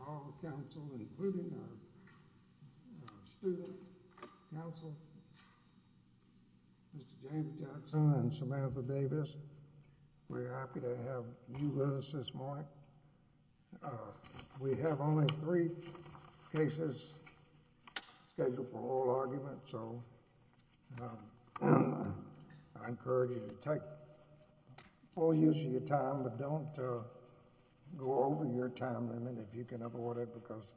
All of the council, including our student council, Mr. James Jackson and Samantha Davis. We're happy to have you with us this morning. We have only three cases scheduled for oral argument, so I encourage you to take full use of your time, but don't go over your time limit if you can afford it because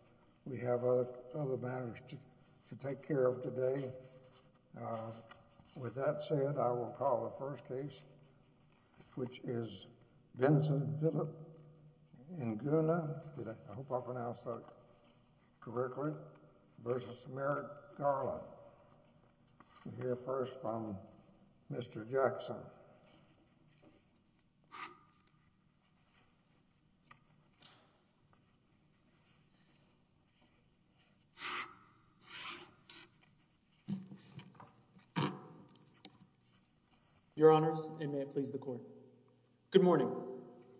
we have other matters to take care of today. With that said, I will call the first case, which is Vincent Philip Njuguna, I hope I pronounced that correctly, v. Merrick Garland. We'll hear first from Mr. Jackson. Your honors, and may it please the court. Good morning.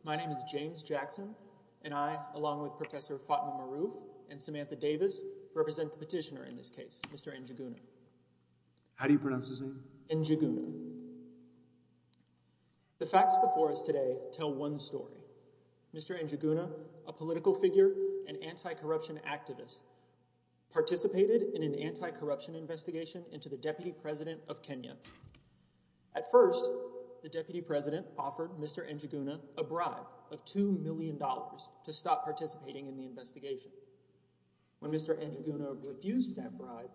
My name is James Jackson, and I, along with Professor Fatima Maru and Samantha Davis, represent the petitioner in this case, Mr. Njuguna. How do you pronounce his name? Njuguna. The facts before us today tell one story. Mr. Njuguna, a political figure and anti-corruption activist, participated in an anti-corruption investigation into the deputy president of Kenya. At first, the deputy president offered Mr. Njuguna a bribe of $2 million to stop participating in the investigation. When Mr. Njuguna refused that bribe,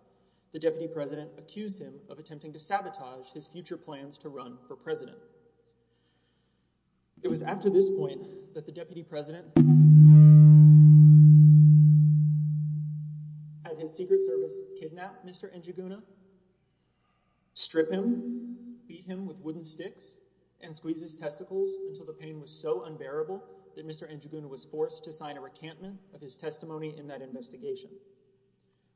the deputy president accused him of attempting to sabotage his future plans to run for president. It was after this point that the deputy president, at his secret service, kidnapped Mr. Njuguna, stripped him, beat him with wooden sticks, and squeezed his testicles until the pain was so unbearable that Mr. Njuguna was forced to sign a recantment of his testimony in that investigation.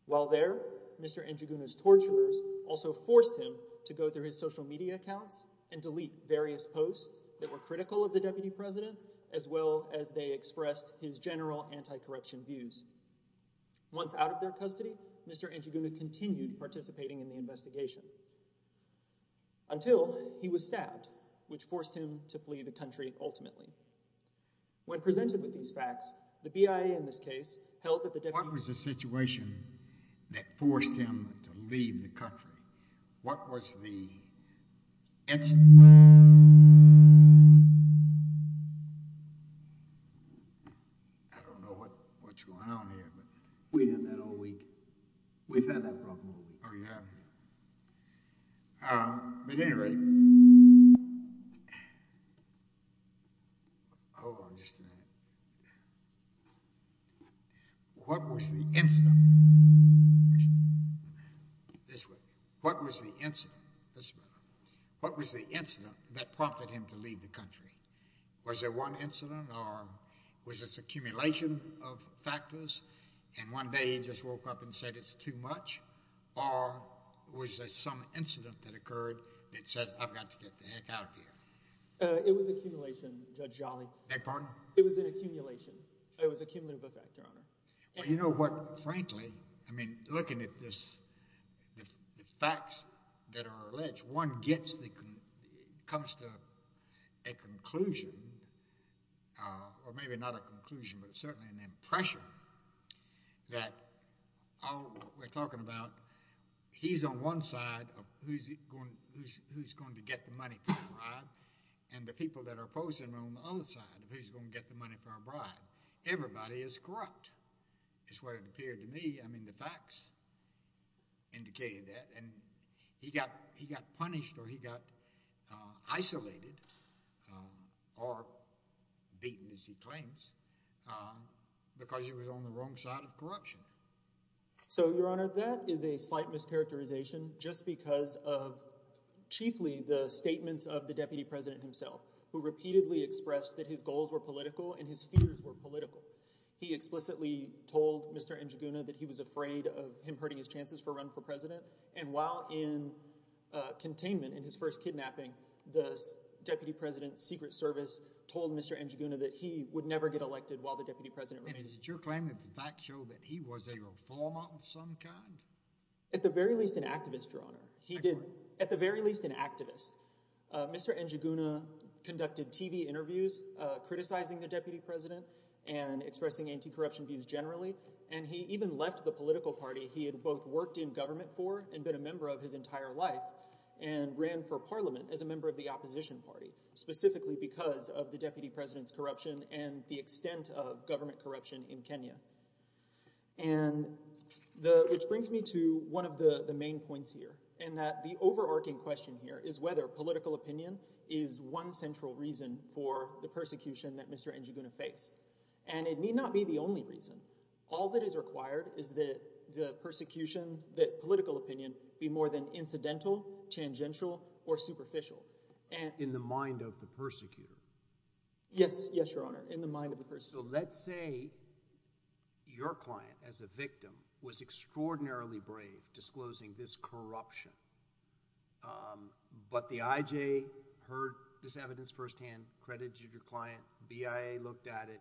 While there, Mr. Njuguna's torturers also forced him to go through his social media accounts and delete various posts that were critical of the deputy president, as well as they expressed his general anti-corruption views. Once out of their custody, Mr. Njuguna continued participating in the investigation, until he was stabbed, which forced him to flee the country ultimately. When presented with these facts, the BIA, in this case, held that the deputy president... What was the situation that forced him to leave the country? What was the... I don't know what's going on here, but... We had that all week. We've had that problem all week. At any rate... Hold on just a minute. What was the incident... This way. What was the incident... This way. Was there one incident, or was this accumulation of factors, and one day he just woke up and said it's too much? Or was there some incident that occurred that says, I've got to get the heck out of here? It was accumulation, Judge Jolly. Beg pardon? It was an accumulation. It was an accumulation of a factor, Your Honor. You know what, frankly, looking at the facts that are alleged, one comes to a conclusion, or maybe not a conclusion, but certainly an impression, that we're talking about, he's on one side of who's going to get the money for a bribe, and the people that are opposing him are on the other side of who's going to get the money for a bribe. Everybody is corrupt, is what it appeared to me. I mean, the facts indicated that, and he got punished, or he got isolated, or beaten, as he claims, because he was on the wrong side of corruption. So, Your Honor, that is a slight mischaracterization just because of, chiefly, the statements of the Deputy President himself, who repeatedly expressed that his goals were political and his fears were political. He explicitly told Mr. Njuguna that he was afraid of him hurting his chances for a run for president, and while in containment in his first kidnapping, the Deputy President's Secret Service told Mr. Njuguna that he would never get elected while the Deputy President remained. Is it your claim that the facts show that he was a reformer of some kind? At the very least, an activist, Your Honor. He did – at the very least, an activist. Mr. Njuguna conducted TV interviews criticizing the Deputy President and expressing anti-corruption views generally, and he even left the political party he had both worked in government for and been a member of his entire life and ran for parliament as a member of the opposition party, specifically because of the Deputy President's corruption and the extent of government corruption in Kenya. And the – which brings me to one of the main points here in that the overarching question here is whether political opinion is one central reason for the persecution that Mr. Njuguna faced. And it need not be the only reason. All that is required is that the persecution – that political opinion be more than incidental, tangential, or superficial. In the mind of the persecutor? Yes. Yes, Your Honor, in the mind of the persecutor. So let's say your client as a victim was extraordinarily brave disclosing this corruption, but the IJ heard this evidence firsthand, credited your client, BIA looked at it.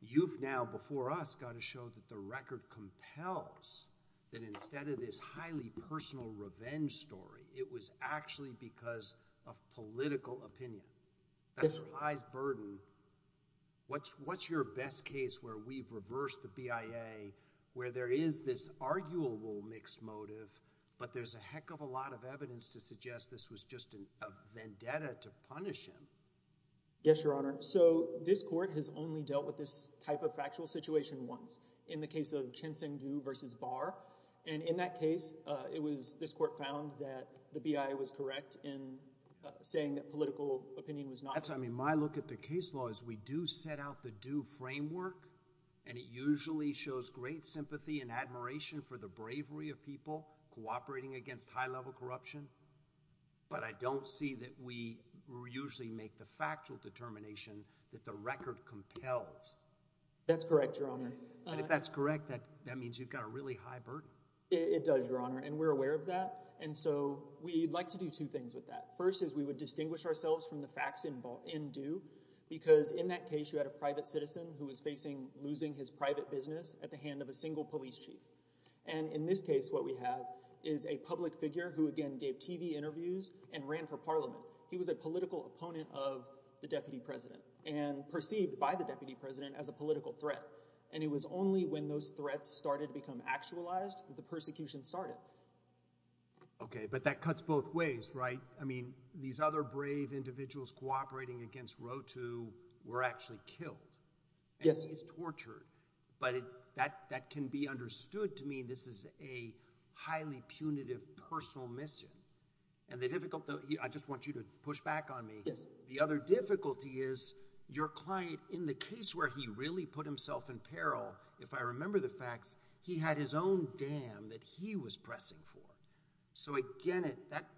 You've now before us got to show that the record compels that instead of this highly personal revenge story, it was actually because of political opinion. That relies burden. What's your best case where we've reversed the BIA, where there is this arguable mixed motive, but there's a heck of a lot of evidence to suggest this was just a vendetta to punish him? Yes, Your Honor. So this court has only dealt with this type of factual situation once in the case of Chin-Seng Du versus Barr. And in that case, it was – this court found that the BIA was correct in saying that political opinion was not – That's correct, Your Honor. And if that's correct, that means you've got a really high burden? It does, Your Honor, and we're aware of that. And so we'd like to do two things with that. First is we would distinguish ourselves from the facts in Du because in that case you had a private citizen who was facing losing his private business at the hand of a single police chief. And in this case what we have is a public figure who, again, gave TV interviews and ran for parliament. He was a political opponent of the deputy president and perceived by the deputy president as a political threat. And it was only when those threats started to become actualized that the persecution started. Okay, but that cuts both ways, right? I mean these other brave individuals cooperating against Rho Tu were actually killed and he's tortured. But that can be understood to mean this is a highly punitive personal mission. I just want you to push back on me. The other difficulty is your client in the case where he really put himself in peril, if I remember the facts, he had his own dam that he was pressing for. So, again,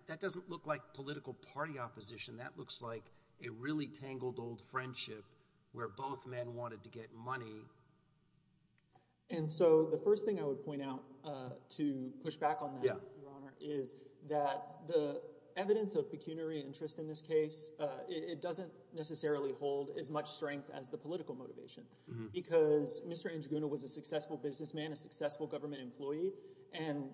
that doesn't look like political party opposition. That looks like a really tangled old friendship where both men wanted to get money. And so the first thing I would point out to push back on that, Your Honor, is that the evidence of pecuniary interest in this case, it doesn't necessarily hold as much strength as the political motivation. Because Mr. Njuguna was a successful businessman, a successful government employee. And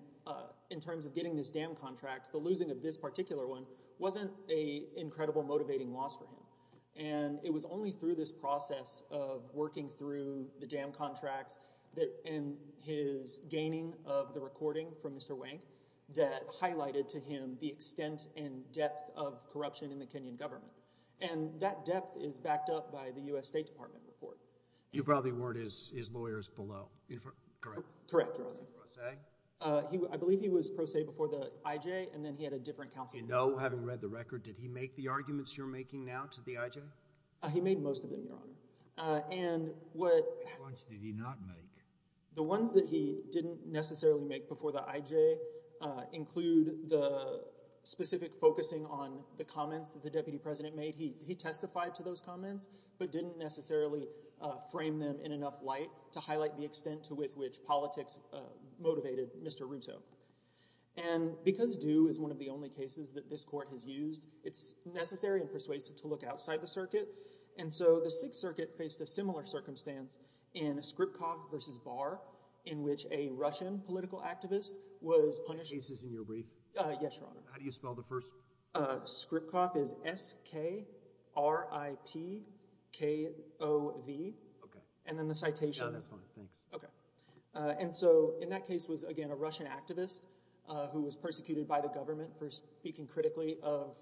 in terms of getting this dam contract, the losing of this particular one wasn't an incredible motivating loss for him. And it was only through this process of working through the dam contracts and his gaining of the recording from Mr. Wang that highlighted to him the extent and depth of corruption in the Kenyan government. And that depth is backed up by the U.S. State Department report. You probably weren't his lawyers below, correct? Correct. Was he pro se? I believe he was pro se before the IJ and then he had a different counsel. Do you know, having read the record, did he make the arguments you're making now to the IJ? He made most of them, Your Honor. How much did he not make? The ones that he didn't necessarily make before the IJ include the specific focusing on the comments that the deputy president made. He testified to those comments but didn't necessarily frame them in enough light to highlight the extent to which politics motivated Mr. Ruto. And because Due is one of the only cases that this court has used, it's necessary and persuasive to look outside the circuit. And so the Sixth Circuit faced a similar circumstance in Skripkov v. Barr in which a Russian political activist was punished. How do you spell the first? Skripkov is S-K-R-I-P-K-O-V. Okay. And then the citation. No, that's fine. Thanks. Okay. And so in that case was, again, a Russian activist who was persecuted by the government for speaking critically of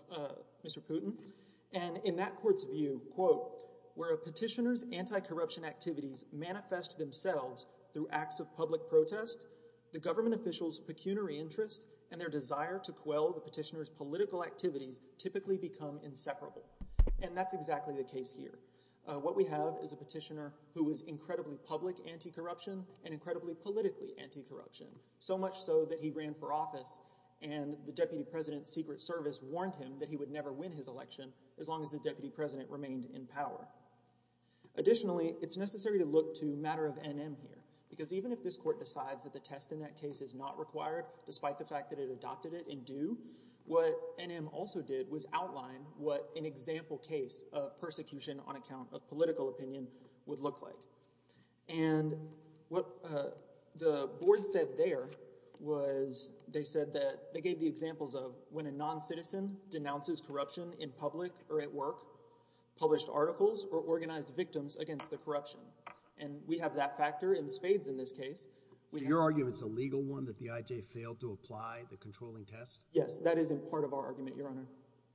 Mr. Putin. And in that court's view, quote, where a petitioner's anti-corruption activities manifest themselves through acts of public protest, the government officials' pecuniary interest and their desire to quell the petitioner's political activities typically become inseparable. And that's exactly the case here. What we have is a petitioner who was incredibly public anti-corruption and incredibly politically anti-corruption, so much so that he ran for office and the deputy president's secret service warned him that he would never win his election as long as the deputy president remained in power. Additionally, it's necessary to look to matter of NM here because even if this court decides that the test in that case is not required, despite the fact that it adopted it in due, what NM also did was outline what an example case of persecution on account of political opinion would look like. And what the board said there was they said that – they gave the examples of when a noncitizen denounces corruption in public or at work, published articles, or organized victims against the corruption. And we have that factor in spades in this case. So your argument is a legal one, that the IJ failed to apply the controlling test? Yes, that is in part of our argument, Your Honor.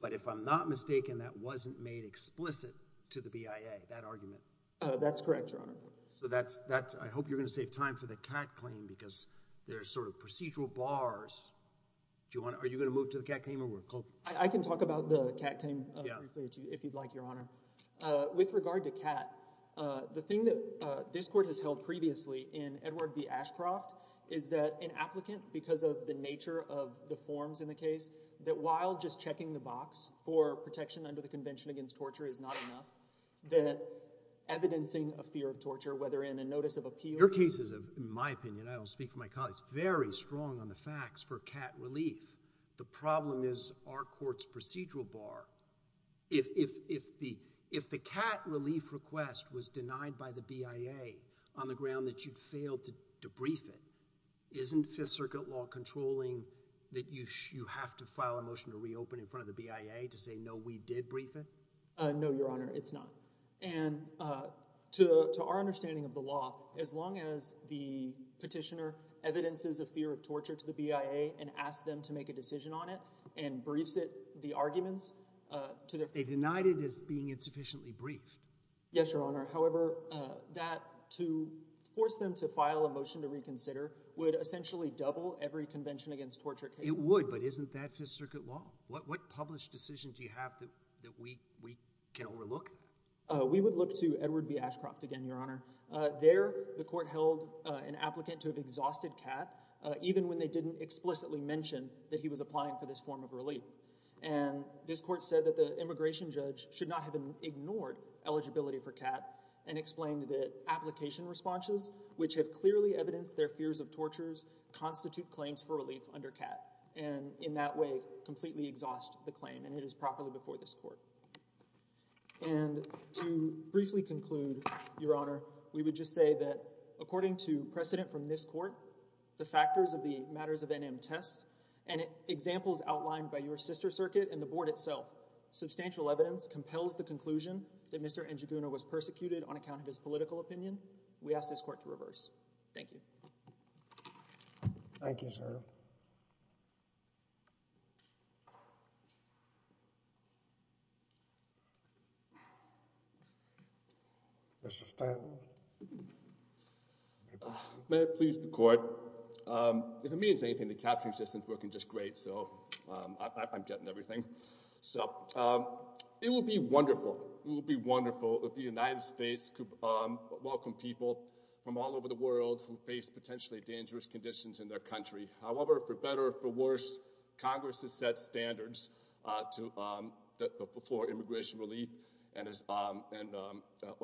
But if I'm not mistaken, that wasn't made explicit to the BIA, that argument? That's correct, Your Honor. So that's – I hope you're going to save time for the Catt claim because there are sort of procedural bars. Do you want to – are you going to move to the Catt claim or we're closing? I can talk about the Catt claim briefly if you'd like, Your Honor. With regard to Catt, the thing that this court has held previously in Edward B. Ashcroft is that an applicant, because of the nature of the forms in the case, that while just checking the box for protection under the Convention Against Torture is not enough, that evidencing a fear of torture, whether in a notice of appeal – Your case is, in my opinion – I don't speak for my colleagues – very strong on the facts for Catt relief. The problem is our court's procedural bar. If the Catt relief request was denied by the BIA on the ground that you'd failed to brief it, isn't Fifth Circuit law controlling that you have to file a motion to reopen in front of the BIA to say, no, we did brief it? No, Your Honor, it's not. And to our understanding of the law, as long as the petitioner evidences a fear of torture to the BIA and asks them to make a decision on it and briefs it, the arguments – They denied it as being insufficiently brief. Yes, Your Honor. However, that – to force them to file a motion to reconsider would essentially double every Convention Against Torture case. It would, but isn't that Fifth Circuit law? What published decision do you have that we can overlook? We would look to Edward B. Ashcroft again, Your Honor. There, the court held an applicant to have exhausted Catt, even when they didn't explicitly mention that he was applying for this form of relief. And this court said that the immigration judge should not have ignored eligibility for Catt and explained that application responses, which have clearly evidenced their fears of tortures, constitute claims for relief under Catt and in that way completely exhaust the claim and it is properly before this court. And to briefly conclude, Your Honor, we would just say that according to precedent from this court, the factors of the matters of NM test and examples outlined by your sister circuit and the board itself, substantial evidence compels the conclusion that Mr. Njuguna was persecuted on account of his political opinion. We ask this court to reverse. Thank you. Thank you, sir. Mr. Stanton. May it please the court. If it means anything, the captioning system is working just great, so I'm getting everything. It would be wonderful, it would be wonderful if the United States could welcome people from all over the world who face potentially dangerous conditions in their country. However, for better or for worse, Congress has set standards for immigration relief and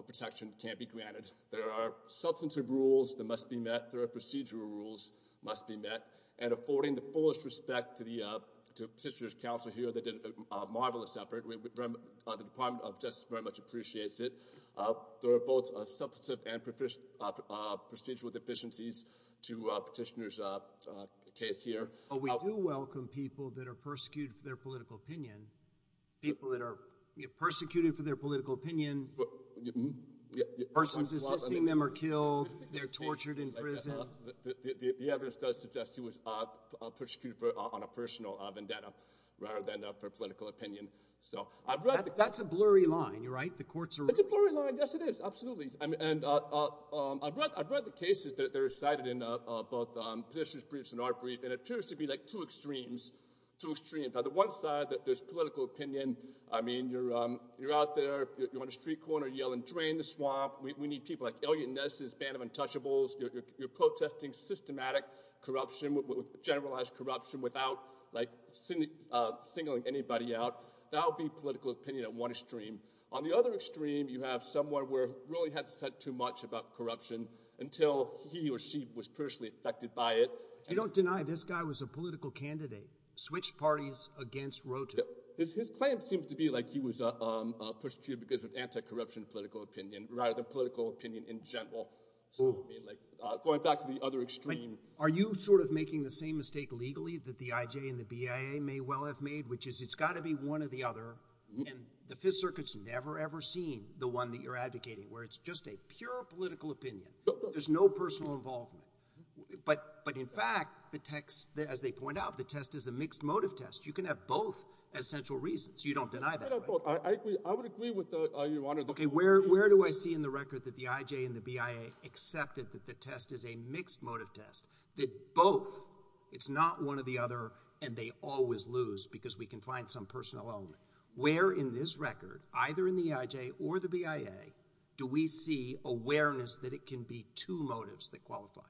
protection can't be granted. There are substantive rules that must be met. There are procedural rules that must be met. And affording the fullest respect to the petitioner's counsel here, they did a marvelous effort. The Department of Justice very much appreciates it. There are both substantive and procedural deficiencies to petitioner's case here. We do welcome people that are persecuted for their political opinion. People that are persecuted for their political opinion, persons assisting them are killed, they're tortured in prison. The evidence does suggest he was persecuted on a personal vendetta rather than for political opinion. That's a blurry line, right? The court's eroding. It's a blurry line. Yes, it is. Absolutely. And I've read the cases that are cited in both petitioner's briefs and our briefs, and it appears to be like two extremes. Two extremes. On the one side, there's political opinion. I mean, you're out there, you're on a street corner yelling, drain the swamp. We need people like alien nurses, band of untouchables. You're protesting systematic corruption, generalized corruption without singling anybody out. That would be political opinion at one extreme. On the other extreme, you have someone who really had said too much about corruption until he or she was personally affected by it. You don't deny this guy was a political candidate, switched parties against Roto. His claim seems to be like he was persecuted because of anti-corruption political opinion rather than political opinion in general. Going back to the other extreme. Are you sort of making the same mistake legally that the IJ and the BIA may well have made, which is it's got to be one or the other, and the Fifth Circuit's never, ever seen the one that you're advocating, where it's just a pure political opinion. There's no personal involvement. But in fact, as they point out, the test is a mixed motive test. You can have both as central reasons. You don't deny that, right? I would agree with your Honor. Okay, where do I see in the record that the IJ and the BIA accepted that the test is a mixed motive test? That both, it's not one or the other, and they always lose because we can find some personal element. Where in this record, either in the IJ or the BIA, do we see awareness that it can be two motives that qualify?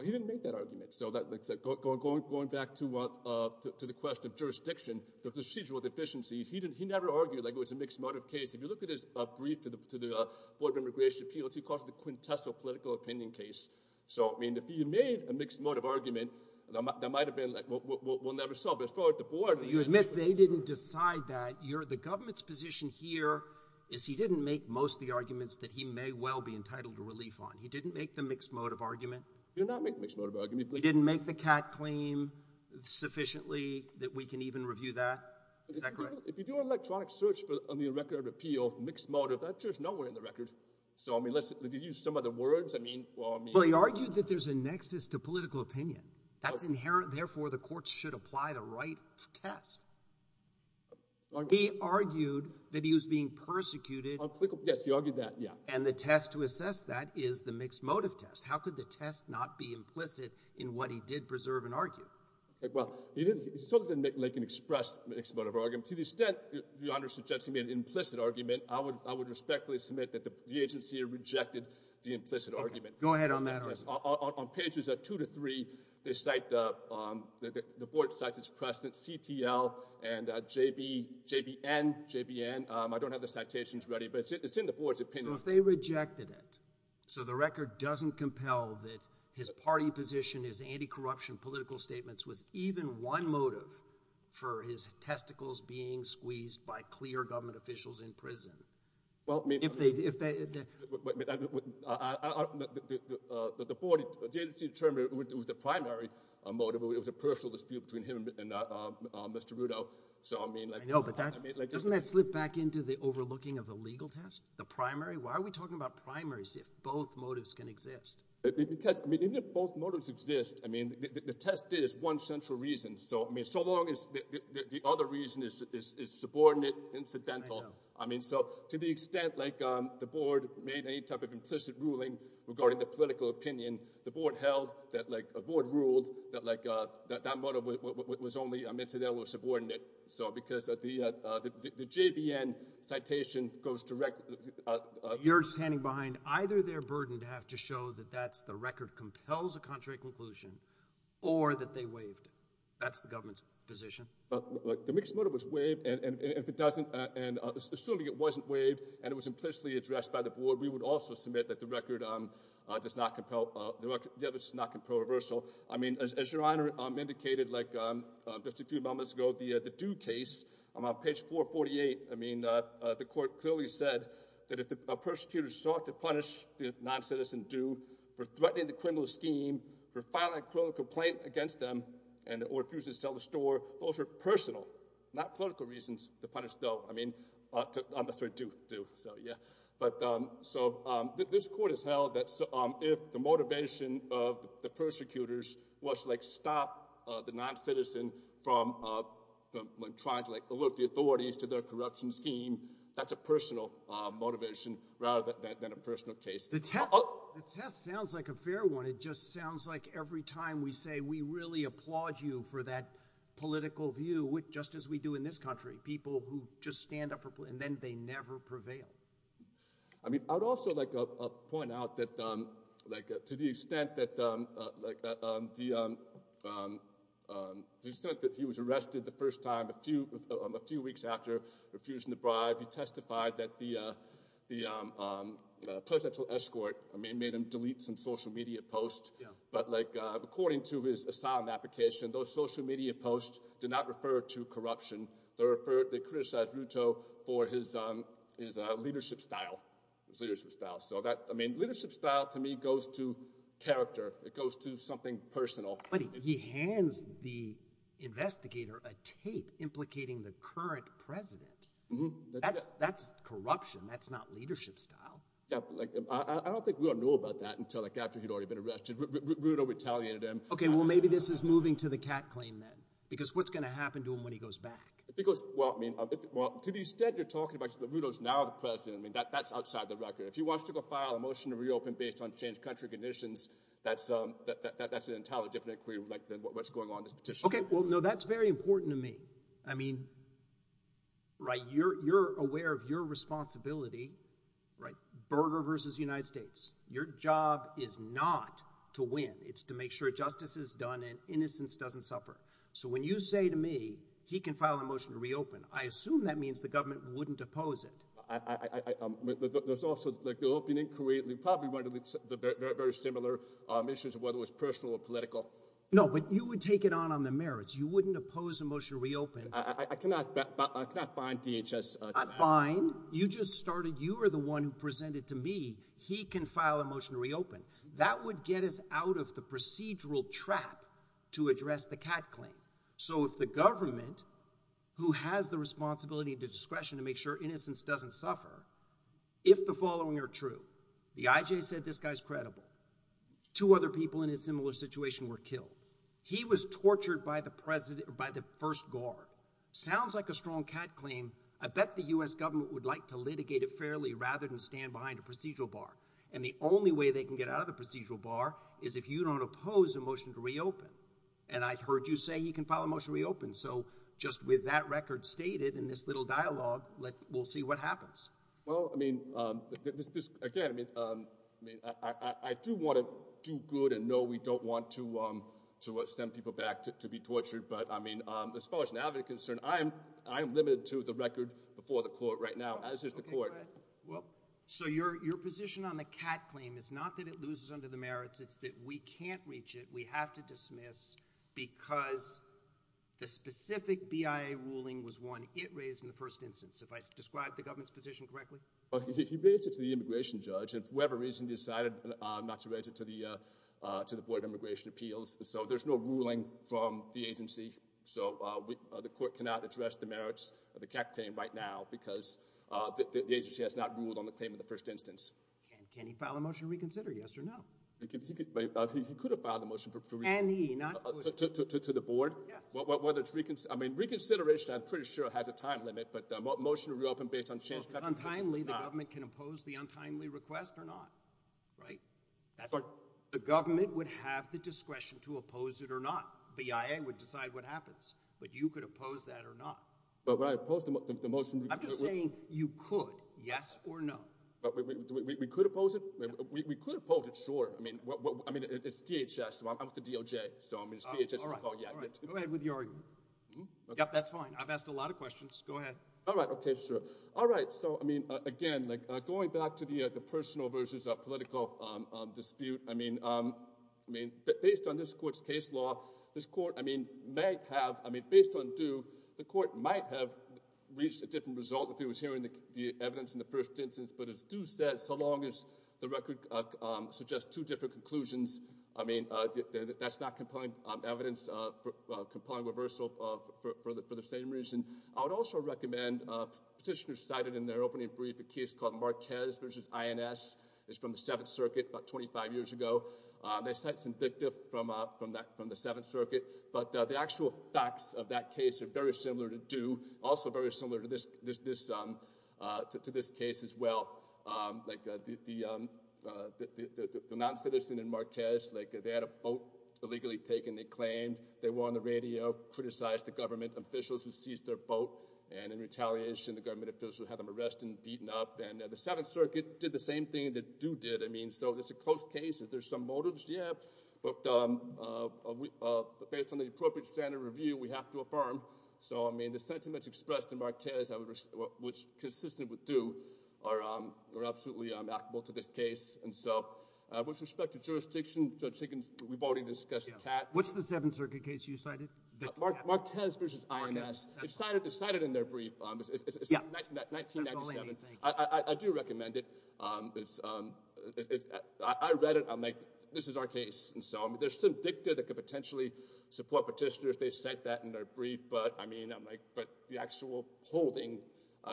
You didn't make that argument. Going back to the question of jurisdiction, the procedural deficiencies, he never argued like it was a mixed motive case. If you look at his brief to the Board of Immigration Appeals, he calls it a quintessal political opinion case. So, I mean, if he made a mixed motive argument, that might have been, like, we'll never solve it. As far as the Board of Immigration Appeals. You admit they didn't decide that. The government's position here is he didn't make most of the arguments that he may well be entitled to relief on. He didn't make the mixed motive argument. He did not make the mixed motive argument. He didn't make the CAC claim sufficiently that we can even review that? Is that correct? If you do an electronic search on the record of appeal, mixed motive, that's just nowhere in the records. So, I mean, did he use some other words? I mean, well, I mean. Well, he argued that there's a nexus to political opinion. That's inherent. Therefore, the courts should apply the right test. He argued that he was being persecuted. Yes, he argued that, yeah. And the test to assess that is the mixed motive test. How could the test not be implicit in what he did preserve and argue? Well, he certainly didn't make an expressed mixed motive argument. To the extent the Honor suggests he made an implicit argument, I would respectfully submit that the agency rejected the implicit argument. Go ahead on that argument. On pages 2 to 3, the Board cites its precedent, CTL and JBN. I don't have the citations ready, but it's in the Board's opinion. So, if they rejected it, so the record doesn't compel that his party position, his anti-corruption political statements was even one motive for his testicles being squeezed by clear government officials in prison. Well, I mean. If they. The agency determined it was the primary motive. It was a personal dispute between him and Mr. Rudeau. So, I mean. I know, but doesn't that slip back into the overlooking of the legal test? The primary? Why are we talking about primaries if both motives can exist? Because, I mean, even if both motives exist, I mean, the test is one central reason. So, I mean, so long as the other reason is subordinate, incidental. I know. I mean, so, to the extent, like, the Board made any type of implicit ruling regarding the political opinion, the Board held that, like, the Board ruled that, like, that motive was only incidental or subordinate. So, because the JVN citation goes direct. You're standing behind either their burden to have to show that that's the record compels a contrary conclusion or that they waived it. That's the government's position. The mixed motive was waived, and if it doesn't, and assuming it wasn't waived and it was implicitly addressed by the Board, we would also submit that the record does not compel, the record does not compel reversal. I mean, as Your Honor indicated, like, just a few moments ago, the Dew case, on page 448, I mean, the court clearly said that if a persecutor sought to punish the non-citizen Dew for threatening the criminal scheme, for filing a criminal complaint against them, or refusing to sell the store, those are personal, not political reasons to punish Dew. So, yeah. But, so, this court has held that if the motivation of the persecutors was to, like, stop the non-citizen from trying to, like, alert the authorities to their corruption scheme, that's a personal motivation rather than a personal case. The test sounds like a fair one. It just sounds like every time we say we really applaud you for that political view, just as we do in this country, people who just stand up and then they never prevail. I mean, I'd also, like, point out that, like, to the extent that, like, the extent that he was arrested the first time a few weeks after refusing to bribe, he testified that the presidential escort, I mean, made him delete some social media posts. But, like, according to his asylum application, those social media posts did not refer to corruption. They criticized Ruto for his leadership style, his leadership style. So that, I mean, leadership style to me goes to character. It goes to something personal. But he hands the investigator a tape implicating the current president. That's corruption. That's not leadership style. I don't think we all knew about that until, like, after he'd already been arrested. Ruto retaliated him. Okay, well, maybe this is moving to the cat claim then because what's going to happen to him when he goes back? Because, well, I mean, to the extent you're talking about Ruto's now the president, I mean, that's outside the record. If he wants to go file a motion to reopen based on changed country conditions, that's an entirely different inquiry than what's going on in this petition. Okay, well, no, that's very important to me. I mean, right, you're aware of your responsibility, right, Berger versus the United States. Your job is not to win. It's to make sure justice is done and innocence doesn't suffer. So when you say to me he can file a motion to reopen, I assume that means the government wouldn't oppose it. There's also, like, the opening inquiry, they probably wanted to look at very similar issues, whether it was personal or political. No, but you would take it on on the merits. You wouldn't oppose a motion to reopen. I cannot find DHS. Fine. You just started. You are the one who presented to me. He can file a motion to reopen. That would get us out of the procedural trap to address the cat claim. So if the government, who has the responsibility and discretion to make sure innocence doesn't suffer, if the following are true, the IJ said this guy's credible. Two other people in a similar situation were killed. He was tortured by the first guard. Sounds like a strong cat claim. I bet the U.S. government would like to litigate it fairly rather than stand behind a procedural bar. And the only way they can get out of the procedural bar is if you don't oppose a motion to reopen. And I heard you say he can file a motion to reopen. So just with that record stated in this little dialogue, we'll see what happens. Well, I mean, again, I do want to do good and know we don't want to send people back to be tortured. But, I mean, as far as an advocate is concerned, I am limited to the record before the court right now, as is the court. So your position on the cat claim is not that it loses under the merits. It's that we can't reach it. We have to dismiss because the specific BIA ruling was one it raised in the first instance. Have I described the government's position correctly? He raised it to the immigration judge. And for whatever reason, he decided not to raise it to the Board of Immigration Appeals. So there's no ruling from the agency. So the court cannot address the merits of the cat claim right now because the agency has not ruled on the claim of the first instance. Can he file a motion to reconsider, yes or no? He could have filed a motion to reconsider. And he not? To the board? Yes. I mean, reconsideration, I'm pretty sure, has a time limit. But a motion to reopen based on change to catch a person is not. If it's untimely, the government can oppose the untimely request or not. Right? The government would have the discretion to oppose it or not. BIA would decide what happens. But you could oppose that or not. But when I oppose the motion – I'm just saying you could, yes or no. We could oppose it? We could oppose it, sure. I mean, it's DHS. I'm with the DOJ. So, I mean, it's DHS. All right. Go ahead with your argument. Yep, that's fine. I've asked a lot of questions. Go ahead. All right. Okay, sure. All right. So, I mean, again, going back to the personal versus political dispute, I mean, based on this court's case law, this court, I mean, may have – I mean, based on due, the court might have reached a different result if it was hearing the evidence in the first instance. But as due says, so long as the record suggests two different conclusions, I mean, that's not compelling evidence, compelling reversal for the same reason. I would also recommend – petitioners cited in their opening brief a case called Marquez v. INS. It's from the Seventh Circuit about 25 years ago. They cite some dicta from the Seventh Circuit. But the actual facts of that case are very similar to due, also very similar to this case as well. Like the non-citizen in Marquez, like they had a vote illegally taken. They claimed they were on the radio, criticized the government officials who seized their vote. And in retaliation, the government officials had them arrested and beaten up. And the Seventh Circuit did the same thing that due did. I mean, so it's a close case. If there's some motives, yeah. But based on the appropriate standard review, we have to affirm. So, I mean, the sentiments expressed in Marquez, which consistent with due, are absolutely amicable to this case. And so, with respect to jurisdiction, Judge Higgins, we've already discussed that. What's the Seventh Circuit case you cited? Marquez v. INS. It's cited in their brief. It's from 1997. I do recommend it. I read it. I'm like, this is our case. There's some dicta that could potentially support petitioners. They cite that in their brief. But the actual holding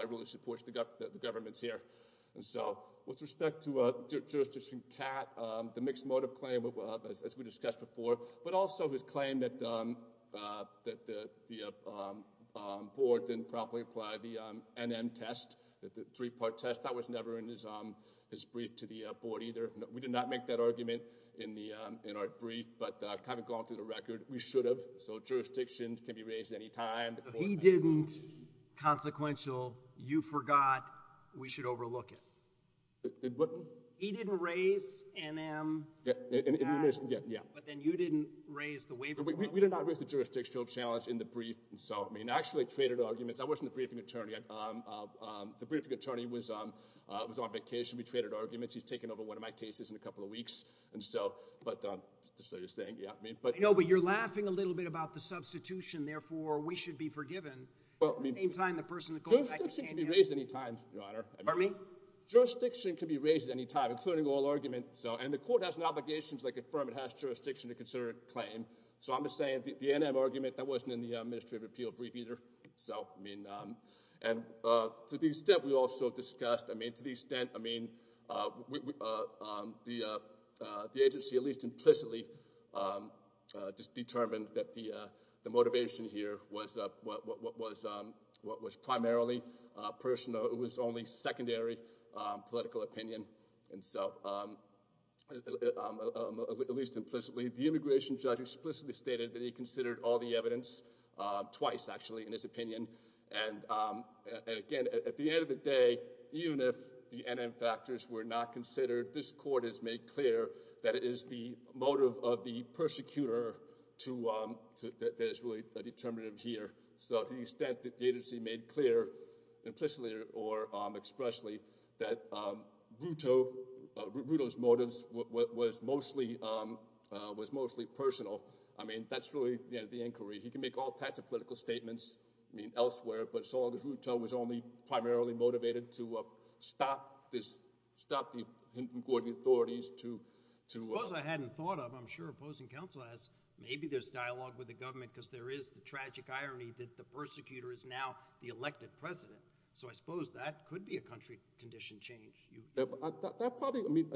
really supports the government's here. And so, with respect to jurisdiction, Kat, the mixed motive claim, as we discussed before, but also his claim that the board didn't properly apply the NM test, the three-part test. That was never in his brief to the board either. We did not make that argument in our brief, but kind of going through the record, we should have. So, jurisdiction can be raised at any time. He didn't consequential. You forgot. We should overlook it. He didn't raise NM. Yeah. But then you didn't raise the waiver. We did not raise the jurisdiction challenge in the brief. I actually traded arguments. I wasn't the briefing attorney. The briefing attorney was on vacation. We traded arguments. He's taking over one of my cases in a couple of weeks. But just so you're saying. No, but you're laughing a little bit about the substitution. Therefore, we should be forgiven. At the same time, the person in the court. Jurisdiction can be raised at any time, Your Honor. Pardon me? Jurisdiction can be raised at any time, including all arguments. And the court has an obligation to confirm it has jurisdiction to consider a claim. So, I'm just saying the NM argument, that wasn't in the Ministry of Appeal brief either. So, I mean, and to the extent we also discussed. I mean, to the extent. I mean, the agency, at least implicitly, just determined that the motivation here was primarily personal. It was only secondary political opinion. And so, at least implicitly, the immigration judge explicitly stated that he considered all the evidence. Twice, actually, in his opinion. And again, at the end of the day, even if the NM factors were not considered. This court has made clear that it is the motive of the persecutor that is really determinative here. So, to the extent the agency made clear implicitly or expressly that Ruto's motives was mostly personal. I mean, that's really the inquiry. He can make all types of political statements, I mean, elsewhere. But as long as Ruto was only primarily motivated to stop this, stop the NM authorities to. Suppose I hadn't thought of, I'm sure opposing counsel has. Maybe there's dialogue with the government because there is the tragic irony that the persecutor is now the elected president. So, I suppose that could be a country condition change. That probably, I mean,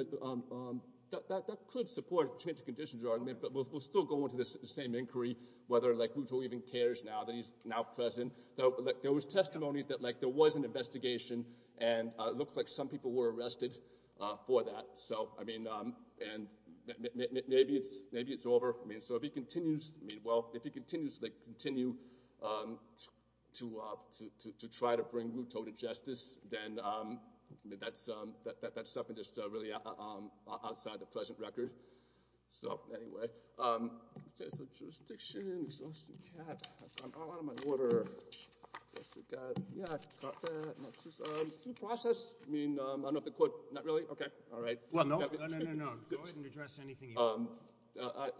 that could support change of conditions argument. But we'll still go into this same inquiry whether, like, Ruto even cares now that he's now president. There was testimony that, like, there was an investigation and it looked like some people were arrested for that. So, I mean, and maybe it's over. I mean, so if he continues, well, if he continues to, like, continue to try to bring Ruto to justice, then that's something that's really outside the present record. So, anyway. I'm all out of my order. Yeah, I caught that. Due process? I mean, I don't know if the court. Not really? Okay. All right. Well, no, no, no, no. Go ahead and address anything you want.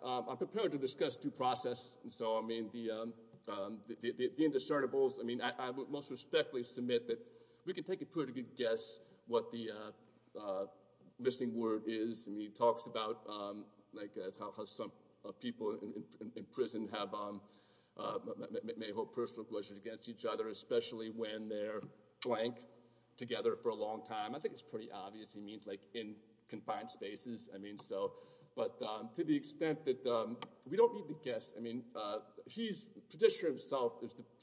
I'm prepared to discuss due process. And so, I mean, the indiscernibles, I mean, I would most respectfully submit that we can take a pretty good guess what the missing word is. I mean, he talks about, like, how some people in prison may hold personal grudges against each other, especially when they're blank together for a long time. I think it's pretty obvious. He means, like, in confined spaces. I mean, so, but to the extent that we don't need to guess. I mean, the petitioner himself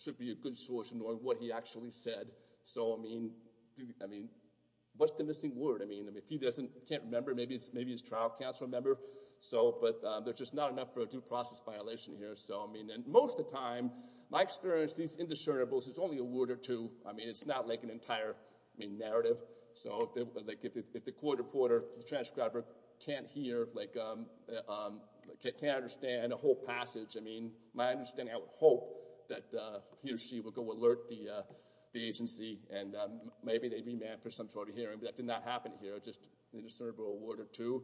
should be a good source in knowing what he actually said. So, I mean, what's the missing word? I mean, if he doesn't, can't remember, maybe he's a trial counsel member. So, but there's just not enough for a due process violation here. So, I mean, and most of the time, my experience, these indiscernibles, it's only a word or two. I mean, it's not like an entire, I mean, narrative. So, like, if the court reporter, the transcriber can't hear, like, can't understand a whole passage, I mean, my understanding, I would hope that he or she would go alert the agency, and maybe they'd remand for some sort of hearing, but that did not happen here. Just indiscernible, a word or two.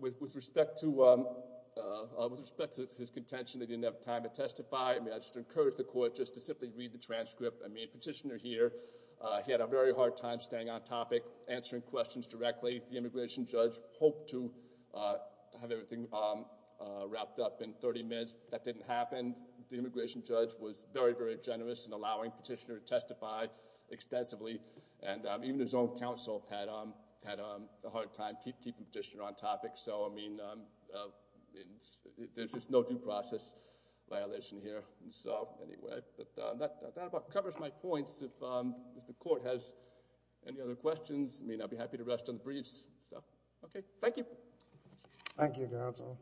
With respect to his contention that he didn't have time to testify, I mean, I just encourage the court just to simply read the transcript. I mean, the petitioner here, he had a very hard time staying on topic, answering questions directly. The immigration judge hoped to have everything wrapped up in 30 minutes. That didn't happen. The immigration judge was very, very generous in allowing petitioner to testify extensively, and even his own counsel had a hard time keeping petitioner on topic. So, I mean, there's just no due process violation here. So, anyway, that about covers my points. If the court has any other questions, I mean, I'd be happy to rest on the breeze. Thank you, counsel.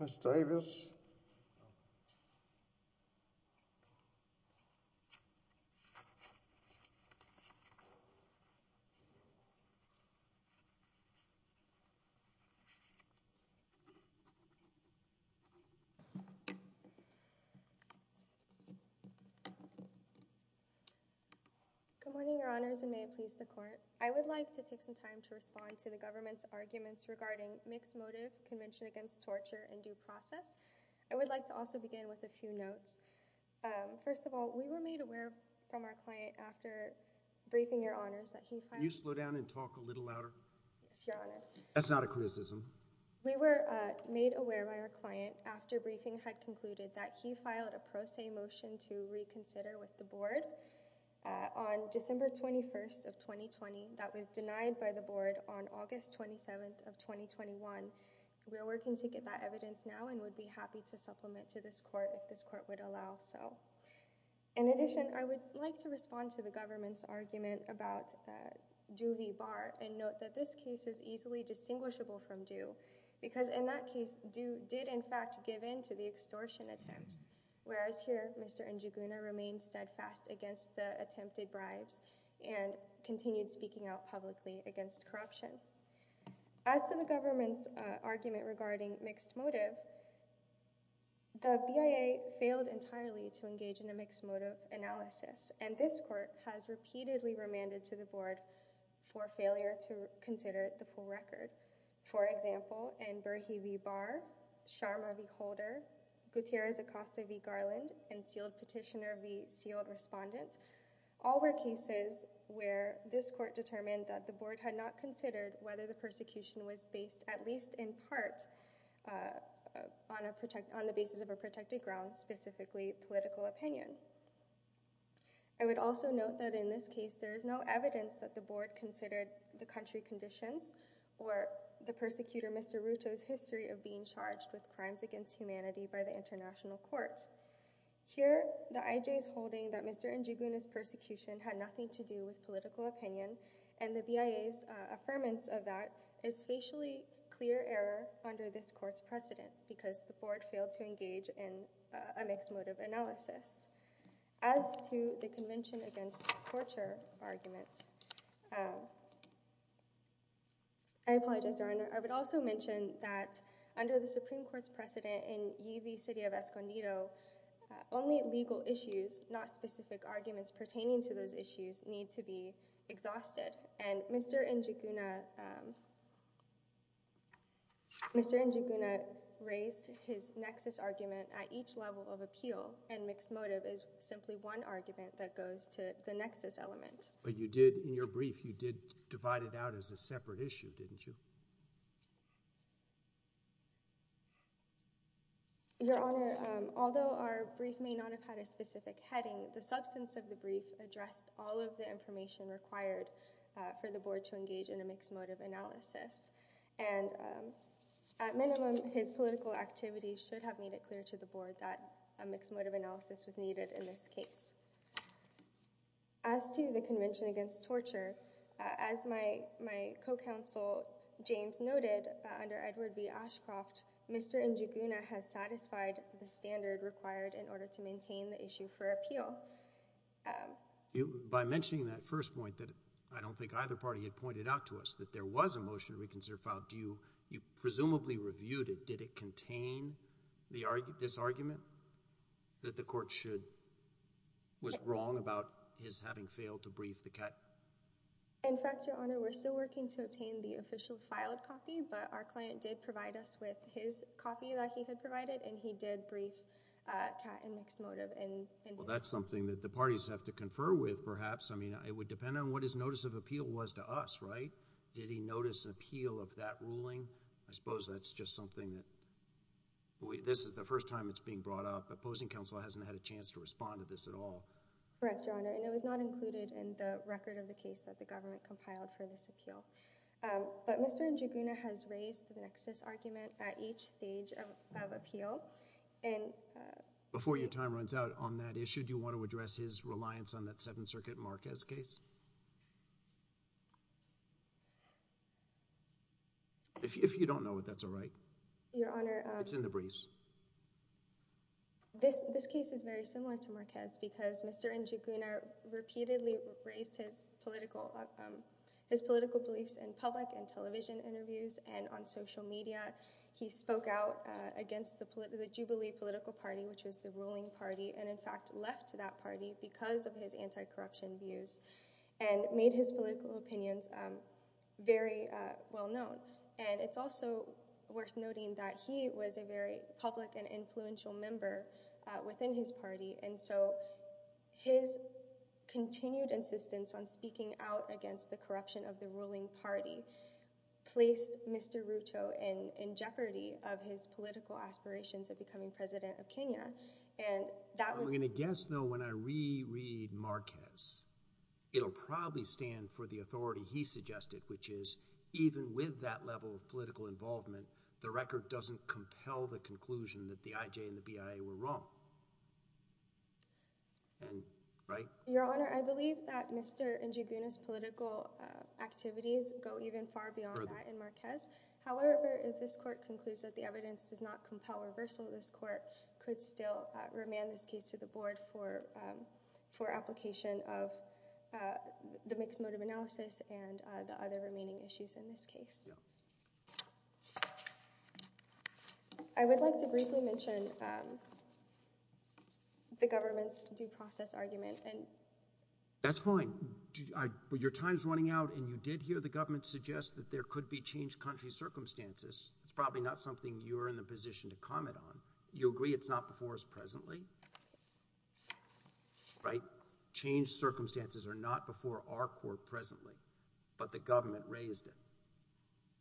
Ms. Davis. Good morning, Your Honors. And may it please the Court. I would like to take some time to respond to the government's arguments regarding mixed motive convention against torture and due process. I would like to also begin with a few notes. First of all, we were made aware from our client after briefing Your Honors that he filed a Can you slow down and talk a little louder? Yes, Your Honor. That's not a criticism. We were made aware by our client after briefing had concluded that he filed a pro se motion to reconsider with the board. On December 21st of 2020, that was denied by the board on August 27th of 2021. We are working to get that evidence now and would be happy to supplement to this court if this court would allow so. In addition, I would like to respond to the government's argument about due v. bar and note that this case is easily distinguishable from due, because in that case, due did in fact give in to the extortion attempts, whereas here, Mr. Njuguna remained steadfast against the attempted bribes and continued speaking out publicly against corruption. As to the government's argument regarding mixed motive, the BIA failed entirely to engage in a mixed motive analysis, and this court has repeatedly remanded to the board for failure to consider the full record. For example, in Berhe v. Barr, Sharma v. Holder, Gutierrez Acosta v. Garland, and Sealed Petitioner v. Sealed Respondent, all were cases where this court determined that the board had not considered whether the persecution was based at least in part on the basis of a protected ground, specifically political opinion. I would also note that in this case, there is no evidence that the board considered the country conditions or the persecutor Mr. Ruto's history of being charged with crimes against humanity by the international court. Here, the IJ is holding that Mr. Njuguna's persecution had nothing to do with political opinion, and the BIA's affirmance of that is facially clear error under this court's precedent, because the board failed to engage in a mixed motive analysis. As to the convention against torture argument, I apologize, Your Honor. I would also mention that under the Supreme Court's precedent in U.V. City of Escondido, only legal issues, not specific arguments pertaining to those issues, need to be exhausted, and Mr. Njuguna raised his nexus argument at each level of appeal, and mixed motive is simply one argument that goes to the nexus element. But you did, in your brief, you did divide it out as a separate issue, didn't you? Your Honor, although our brief may not have had a specific heading, the substance of the brief addressed all of the information required for the board to engage in a mixed motive analysis, and at minimum, his political activities should have made it clear to the board that a mixed motive analysis was needed in this case. As to the convention against torture, as my co-counsel James noted, under Edward B. Ashcroft, Mr. Njuguna has satisfied the standard required in order to maintain the issue for appeal. By mentioning that first point that I don't think either party had pointed out to us, that there was a motion to reconsider file, you presumably reviewed it. Did it contain this argument that the court was wrong about his having failed to brief the cat? In fact, Your Honor, we're still working to obtain the official filed copy, but our client did provide us with his copy that he had provided, and he did brief Cat in mixed motive. Well, that's something that the parties have to confer with, perhaps. I mean, it would depend on what his notice of appeal was to us, right? Did he notice an appeal of that ruling? I suppose that's just something that this is the first time it's being brought up. Opposing counsel hasn't had a chance to respond to this at all. Correct, Your Honor, and it was not included in the record of the case that the government compiled for this appeal. But Mr. Njuguna has raised the nexus argument at each stage of appeal. Before your time runs out on that issue, do you want to address his reliance on that Seventh Circuit Marquez case? If you don't know it, that's all right. It's in the briefs. This case is very similar to Marquez because Mr. Njuguna repeatedly raised his political beliefs in public and television interviews and on social media. He spoke out against the Jubilee political party, which was the ruling party, and in fact left that party because of his anti-corruption views and made his political opinions very well known. And it's also worth noting that he was a very public and influential member within his party, and so his continued insistence on speaking out against the corruption of the ruling party placed Mr. Ruto in jeopardy of his political aspirations of becoming president of Kenya. I'm going to guess, though, when I reread Marquez, it'll probably stand for the authority he suggested, which is even with that level of political involvement, the record doesn't compel the conclusion that the IJ and the BIA were wrong. And right? Your Honor, I believe that Mr. Njuguna's political activities go even far beyond that in Marquez. However, if this court concludes that the evidence does not compel reversal, this court could still remand this case to the board for application of the mixed motive analysis and the other remaining issues in this case. I would like to briefly mention the government's due process argument. That's fine. But your time's running out, and you did hear the government suggest that there could be changed country circumstances. It's probably not something you're in the position to comment on. You agree it's not before us presently? Right? Changed circumstances are not before our court presently, but the government raised it.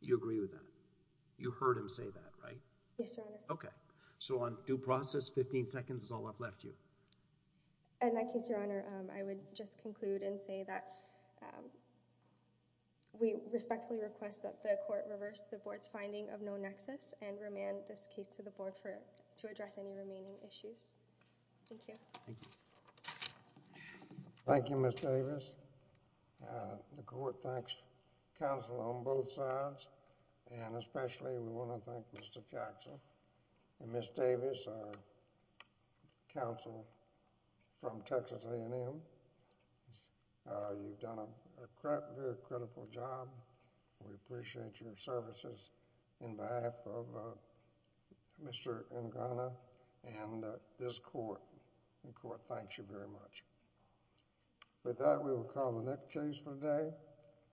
You agree with that? You heard him say that, right? Yes, Your Honor. Okay. So on due process, 15 seconds is all I've left you. In that case, Your Honor, I would just conclude and say that we respectfully request that the court reverse the board's finding of no nexus and remand this case to the board to address any remaining issues. Thank you. Thank you. Thank you, Ms. Davis. The court thanks counsel on both sides, and especially we want to thank Mr. Jackson and Ms. Davis, our counsel from Texas A&M. You've done a very critical job. We appreciate your services in behalf of Mr. Ngana and this court. The court thanks you very much. With that, we will call the next case for the day.